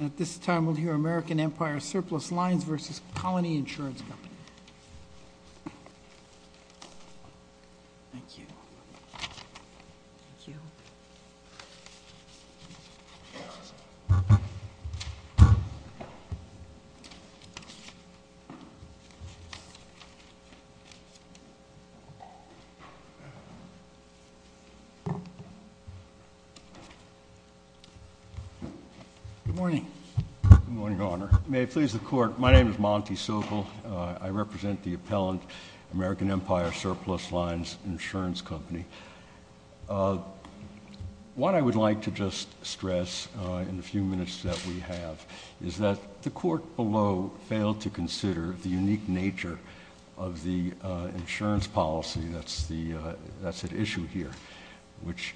At this time, we'll hear American Empire Surplus Lines versus Colony Insurance Company. Good morning. Good morning, Your Honor. May it please the Court, my name is Monty Sokol. I represent the appellant, American Empire Surplus Lines Insurance Company. What I would like to just stress in the few minutes that we have is that the Court below failed to consider the unique nature of the insurance policy that's at issue here, which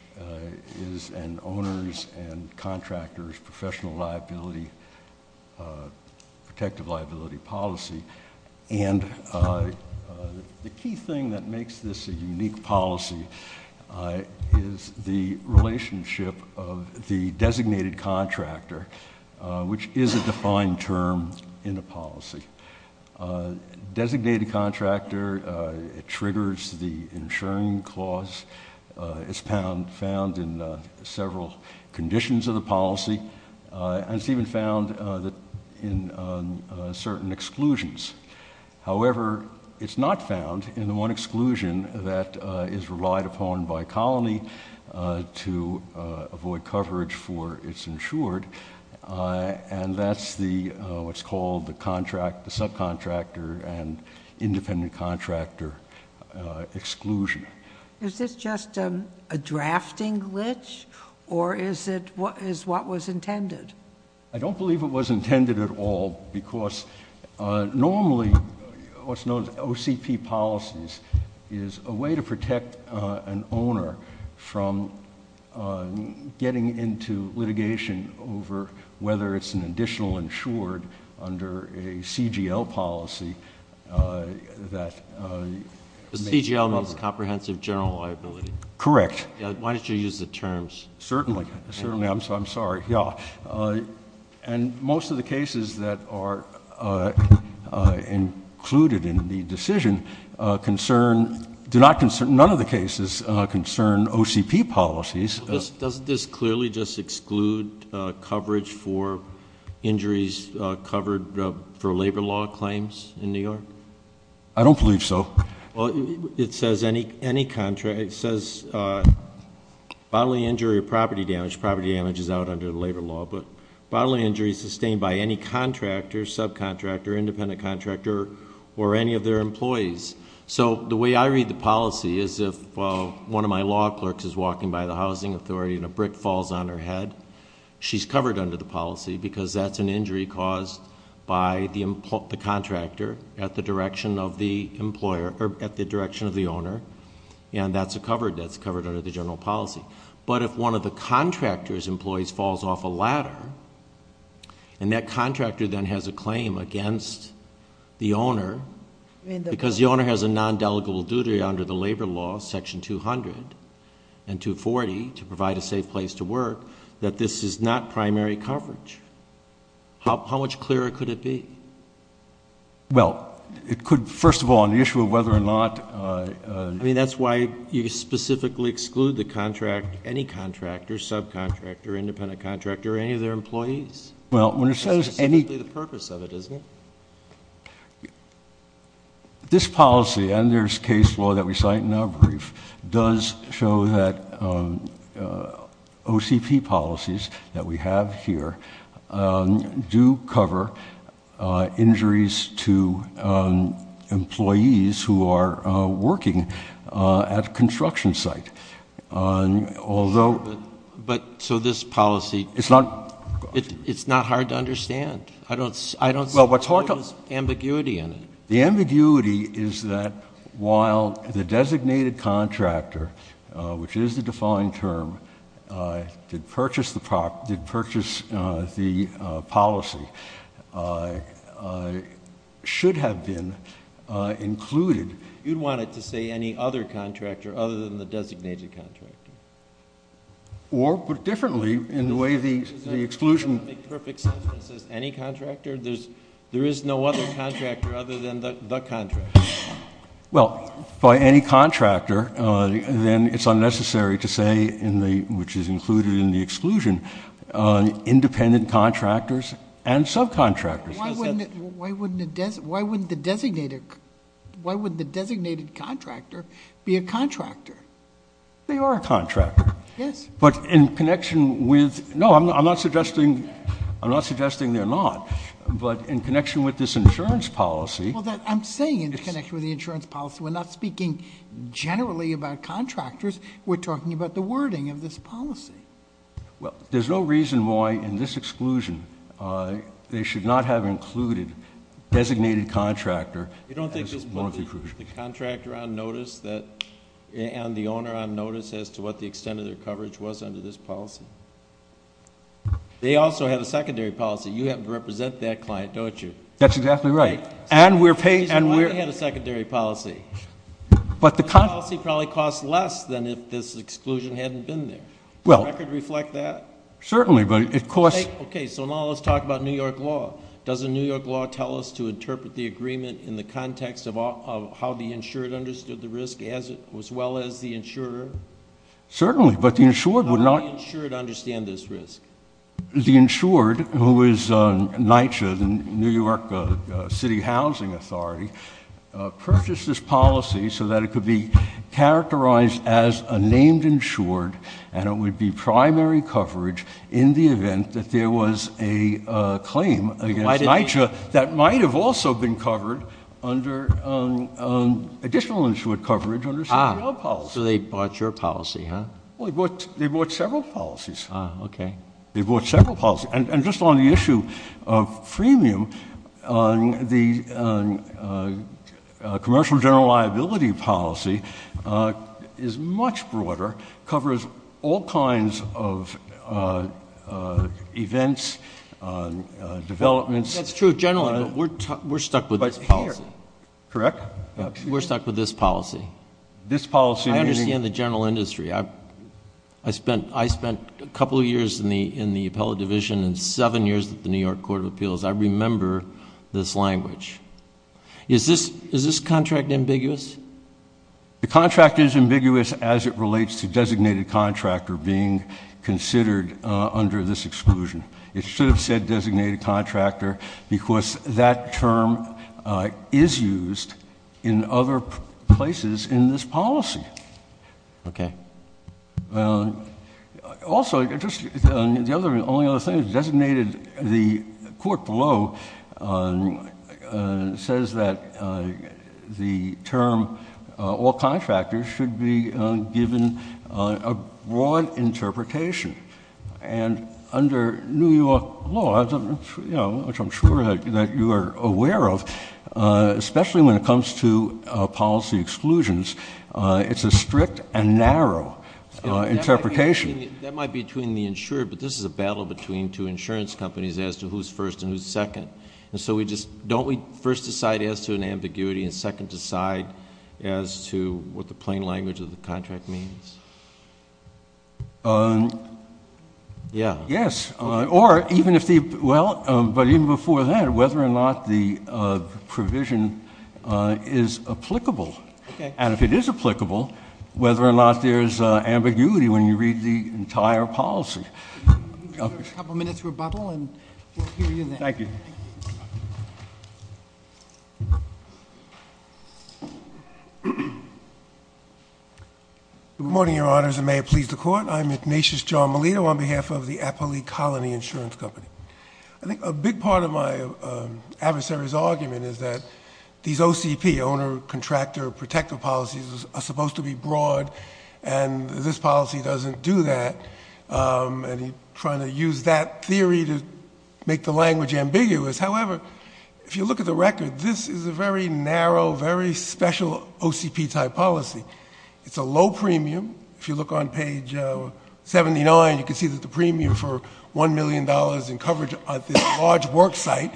is an owner's and contractor's professional liability, protective liability policy. And the key thing that makes this a unique policy is the relationship of the designated contractor, which is a defined term in a policy. Designated contractor triggers the insuring clause. It's found in several conditions of the policy, and it's even found in certain exclusions. However, it's not found in the one exclusion that is relied upon by Colony to avoid coverage for its insured, and that's what's called the subcontractor and independent contractor exclusion. Is this just a drafting glitch, or is it what was intended? I don't believe it was intended at all, because normally what's known as OCP policies is a way to protect an owner from getting into litigation over whether it's an additional insured under a CGL policy. The CGL means comprehensive general liability. Correct. Why don't you use the terms? Certainly. Certainly. I'm sorry. And most of the cases that are included in the decision concern, none of the cases concern OCP policies. Doesn't this clearly just exclude coverage for injuries covered for labor law claims in New York? I don't believe so. It says bodily injury or property damage. Property damage is out under the labor law. But bodily injury sustained by any contractor, subcontractor, independent contractor, or any of their employees. So the way I read the policy is if one of my law clerks is walking by the housing authority and a brick falls on her head, she's covered under the policy because that's an injury caused by the contractor at the direction of the owner. And that's covered under the general policy. But if one of the contractor's employees falls off a ladder, and that contractor then has a claim against the owner, because the owner has a non-delegable duty under the labor law, section 200 and 240, to provide a safe place to work, that this is not primary coverage. How much clearer could it be? Well, it could, first of all, on the issue of whether or not. I mean, that's why you specifically exclude the contract, any contractor, subcontractor, independent contractor, or any of their employees. Well, when it says any. That's simply the purpose of it, isn't it? This policy, and there's case law that we cite in our brief, does show that OCP policies that we have here do cover injuries to employees who are working at a construction site. Although. But, so this policy. It's not. It's not hard to understand. I don't see. Well, what's hard to. There's ambiguity in it. The ambiguity is that while the designated contractor, which is the defined term, did purchase the policy, should have been included. You'd want it to say any other contractor other than the designated contractor. Or put it differently, in the way the exclusion. Does that make perfect sense when it says any contractor? There is no other contractor other than the contractor. Well, by any contractor, then it's unnecessary to say, which is included in the exclusion, independent contractors and subcontractors. Why wouldn't the designated contractor be a contractor? They are a contractor. Yes. But in connection with. No, I'm not suggesting they're not. But in connection with this insurance policy. I'm saying in connection with the insurance policy. We're not speaking generally about contractors. We're talking about the wording of this policy. Well, there's no reason why, in this exclusion, they should not have included designated contractor. You don't think the contractor on notice and the owner on notice as to what the extent of their coverage was under this policy? They also had a secondary policy. You have to represent that client, don't you? That's exactly right. And we're paid. Why do they have a secondary policy? But the policy probably costs less than if this exclusion hadn't been there. Does the record reflect that? Certainly, but it costs. Okay, so now let's talk about New York law. Doesn't New York law tell us to interpret the agreement in the context of how the insured understood the risk as well as the insurer? Certainly, but the insured would not. How would the insured understand this risk? The insured, who is NYCHA, the New York City Housing Authority, purchased this policy so that it could be characterized as a named insured, and it would be primary coverage in the event that there was a claim against NYCHA that might have also been covered under additional insured coverage under a secondary policy. So they bought your policy, huh? They bought several policies. Ah, okay. They bought several policies. And just on the issue of freemium, the commercial general liability policy is much broader, covers all kinds of events, developments. That's true generally, but we're stuck with this policy. Correct? We're stuck with this policy. This policy meaning? I understand the general industry. I spent a couple of years in the appellate division and seven years at the New York Court of Appeals. I remember this language. Is this contract ambiguous? The contract is ambiguous as it relates to designated contractor being considered under this exclusion. It should have said designated contractor because that term is used in other places in this policy. Okay. Also, the only other thing is designated, the court below says that the term all contractors should be given a broad interpretation. And under New York law, which I'm sure that you are aware of, especially when it comes to policy exclusions, it's a strict and narrow interpretation. That might be between the insured, but this is a battle between two insurance companies as to who's first and who's second. Don't we first decide as to an ambiguity and second decide as to what the plain language of the contract means? Yeah. Yes. But even before that, whether or not the provision is applicable. And if it is applicable, whether or not there's ambiguity when you read the entire policy. A couple minutes for a bubble, and we'll hear you then. Thank you. Good morning, your honors, and may it please the court. I'm Ignatius John Melito on behalf of the Appley Colony Insurance Company. I think a big part of my adversary's argument is that these OCP, owner-contractor-protective policies, are supposed to be broad, and this policy doesn't do that. And he's trying to use that theory to make the language ambiguous. However, if you look at the record, this is a very narrow, very special OCP-type policy. It's a low premium. If you look on page 79, you can see that the premium for $1 million in coverage at this large worksite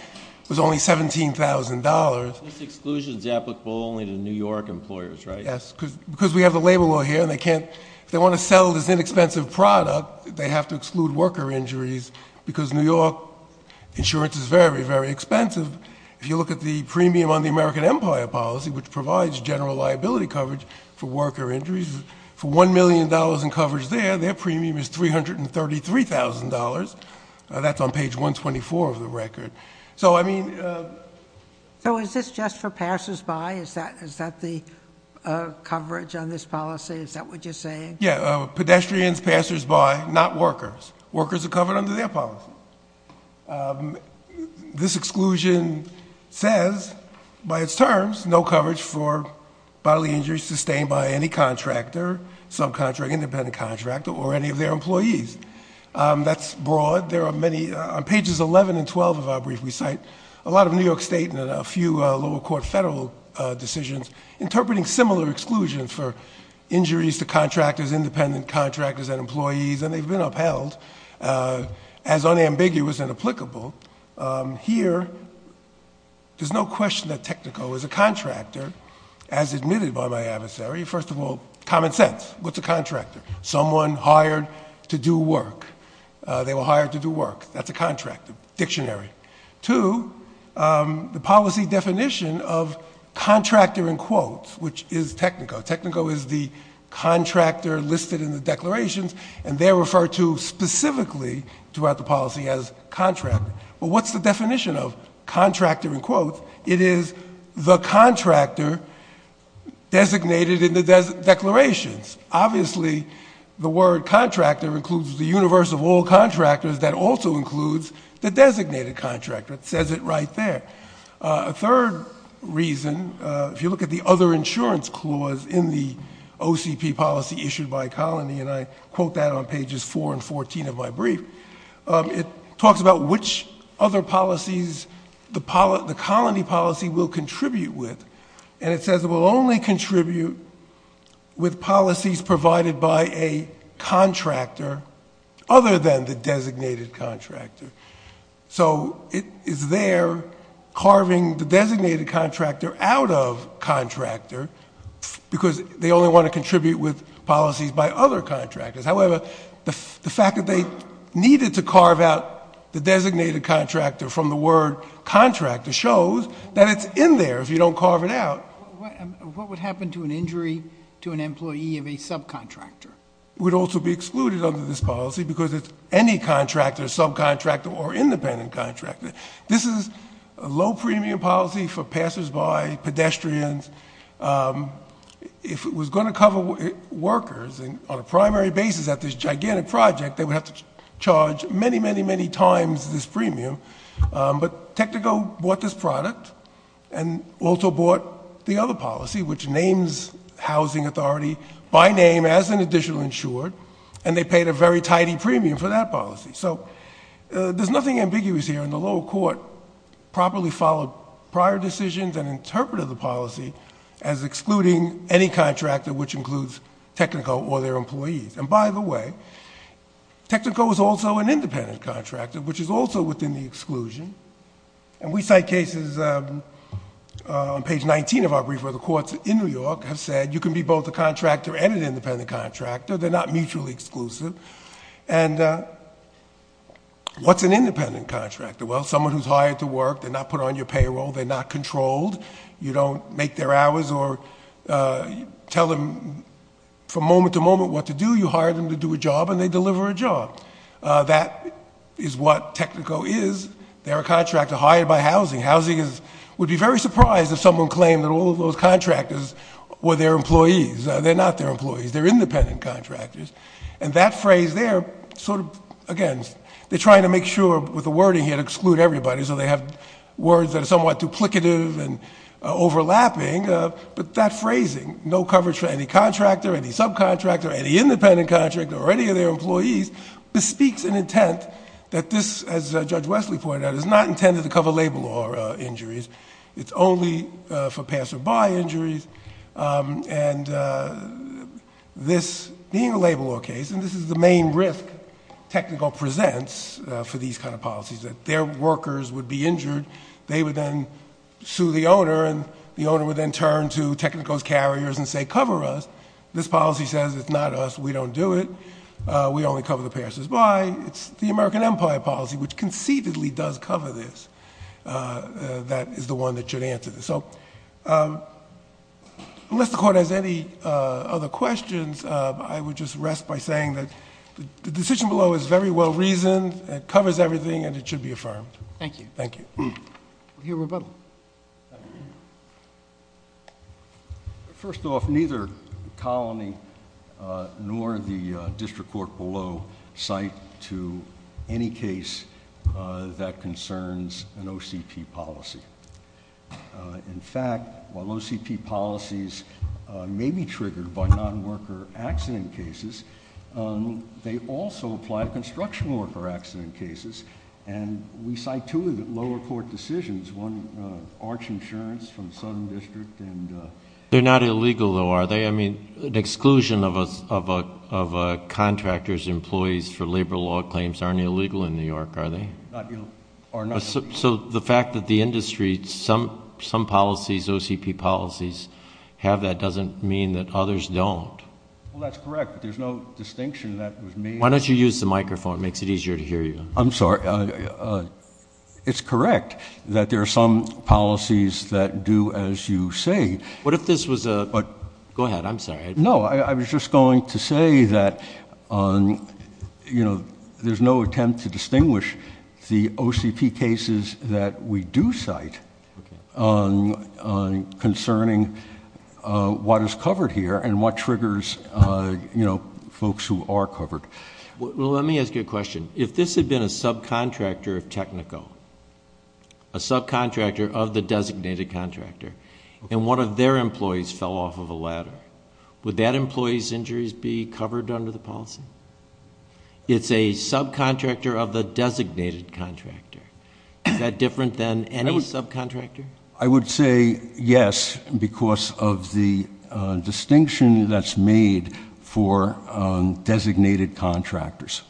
was only $17,000. This exclusion is applicable only to New York employers, right? Yes, because we have the labor law here, and if they want to sell this inexpensive product, they have to exclude worker injuries because New York insurance is very, very expensive. If you look at the premium on the American Empire policy, which provides general liability coverage for worker injuries, for $1 million in coverage there, their premium is $333,000. That's on page 124 of the record. So is this just for passersby? Is that the coverage on this policy? Is that what you're saying? Yeah, pedestrians, passersby, not workers. Workers are covered under their policy. This exclusion says, by its terms, no coverage for bodily injuries sustained by any contractor, subcontractor, independent contractor, or any of their employees. That's broad. On pages 11 and 12 of our brief, we cite a lot of New York State and a few lower court federal decisions interpreting similar exclusions for injuries to contractors, independent contractors, and employees, and they've been upheld as unambiguous and applicable. Here, there's no question that Technico is a contractor, as admitted by my adversary. First of all, common sense. What's a contractor? Someone hired to do work. They were hired to do work. That's a contract, a dictionary. Two, the policy definition of contractor in quotes, which is Technico. Technico is the contractor listed in the declarations, and they're referred to specifically throughout the policy as contractor. But what's the definition of contractor in quotes? It is the contractor designated in the declarations. Obviously, the word contractor includes the universe of all contractors. That also includes the designated contractor. It says it right there. A third reason, if you look at the other insurance clause in the OCP policy issued by Colony, and I quote that on pages 4 and 14 of my brief, it talks about which other policies the Colony policy will contribute with, and it says it will only contribute with policies provided by a contractor other than the designated contractor. So it is there carving the designated contractor out of contractor because they only want to contribute with policies by other contractors. However, the fact that they needed to carve out the designated contractor from the word contractor shows that it's in there if you don't carve it out. What would happen to an injury to an employee of a subcontractor? It would also be excluded under this policy because it's any contractor, subcontractor, or independent contractor. This is a low premium policy for passersby, pedestrians. If it was going to cover workers on a primary basis at this gigantic project, they would have to charge many, many, many times this premium. But Technico bought this product and also bought the other policy, which names housing authority by name as an additional insured, and they paid a very tidy premium for that policy. So there's nothing ambiguous here, and the lower court probably followed prior decisions and interpreted the policy as excluding any contractor which includes Technico or their employees. And by the way, Technico is also an independent contractor, which is also within the exclusion. And we cite cases on page 19 of our brief where the courts in New York have said you can be both a contractor and an independent contractor. They're not mutually exclusive. And what's an independent contractor? Well, someone who's hired to work. They're not put on your payroll. They're not controlled. You don't make their hours or tell them from moment to moment what to do. You hire them to do a job, and they deliver a job. That is what Technico is. They're a contractor hired by housing. Housing would be very surprised if someone claimed that all of those contractors were their employees. They're not their employees. They're independent contractors. And that phrase there, sort of, again, they're trying to make sure with the wording here to exclude everybody, so they have words that are somewhat duplicative and overlapping, but that phrasing, no coverage for any contractor, any subcontractor, any independent contractor, or any of their employees, bespeaks an intent that this, as Judge Wesley pointed out, is not intended to cover labor law injuries. It's only for pass or buy injuries. And this being a labor law case, and this is the main risk Technico presents for these kind of policies, that their workers would be injured, they would then sue the owner, and the owner would then turn to Technico's carriers and say, cover us. This policy says it's not us. We don't do it. We only cover the pass or buy. It's the American Empire policy, which conceitedly does cover this, that is the one that should answer this. So unless the Court has any other questions, I would just rest by saying that the decision below is very well reasoned. It covers everything, and it should be affirmed. Thank you. Thank you. We'll hear rebuttal. First off, neither colony nor the district court below cite to any case that concerns an OCP policy. In fact, while OCP policies may be triggered by non-worker accident cases, they also apply to construction worker accident cases, and we cite two of the lower court decisions. One, Arch Insurance from Southern District. They're not illegal, though, are they? I mean, an exclusion of a contractor's employees for labor law claims aren't illegal in New York, are they? Not illegal. So the fact that the industry, some policies, OCP policies, have that doesn't mean that others don't. Well, that's correct. There's no distinction that was made. Why don't you use the microphone? It makes it easier to hear you. I'm sorry. It's correct that there are some policies that do as you say. What if this was a – go ahead. I'm sorry. No, I was just going to say that there's no attempt to distinguish the OCP cases that we do cite concerning what is covered here and what triggers folks who are covered. Well, let me ask you a question. If this had been a subcontractor of Technico, a subcontractor of the designated contractor, and one of their employees fell off of a ladder, would that employee's injuries be covered under the policy? It's a subcontractor of the designated contractor. Is that different than any subcontractor? I would say yes because of the distinction that's made for designated contractors.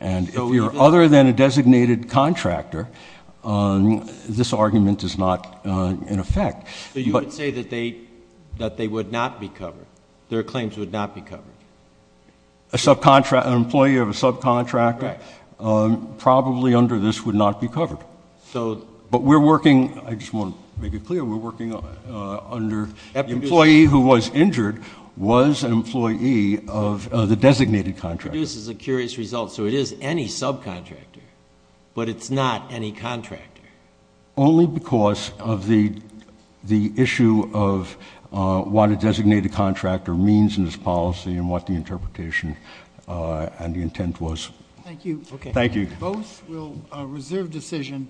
And if you're other than a designated contractor, this argument is not in effect. So you would say that they would not be covered, their claims would not be covered? An employee of a subcontractor probably under this would not be covered. But we're working – I just want to make it clear – we're working under the employee who was injured was an employee of the designated contractor. This produces a curious result. So it is any subcontractor, but it's not any contractor. Only because of the issue of what a designated contractor means in this policy and what the interpretation and the intent was. Thank you. Thank you. Both will reserve decision.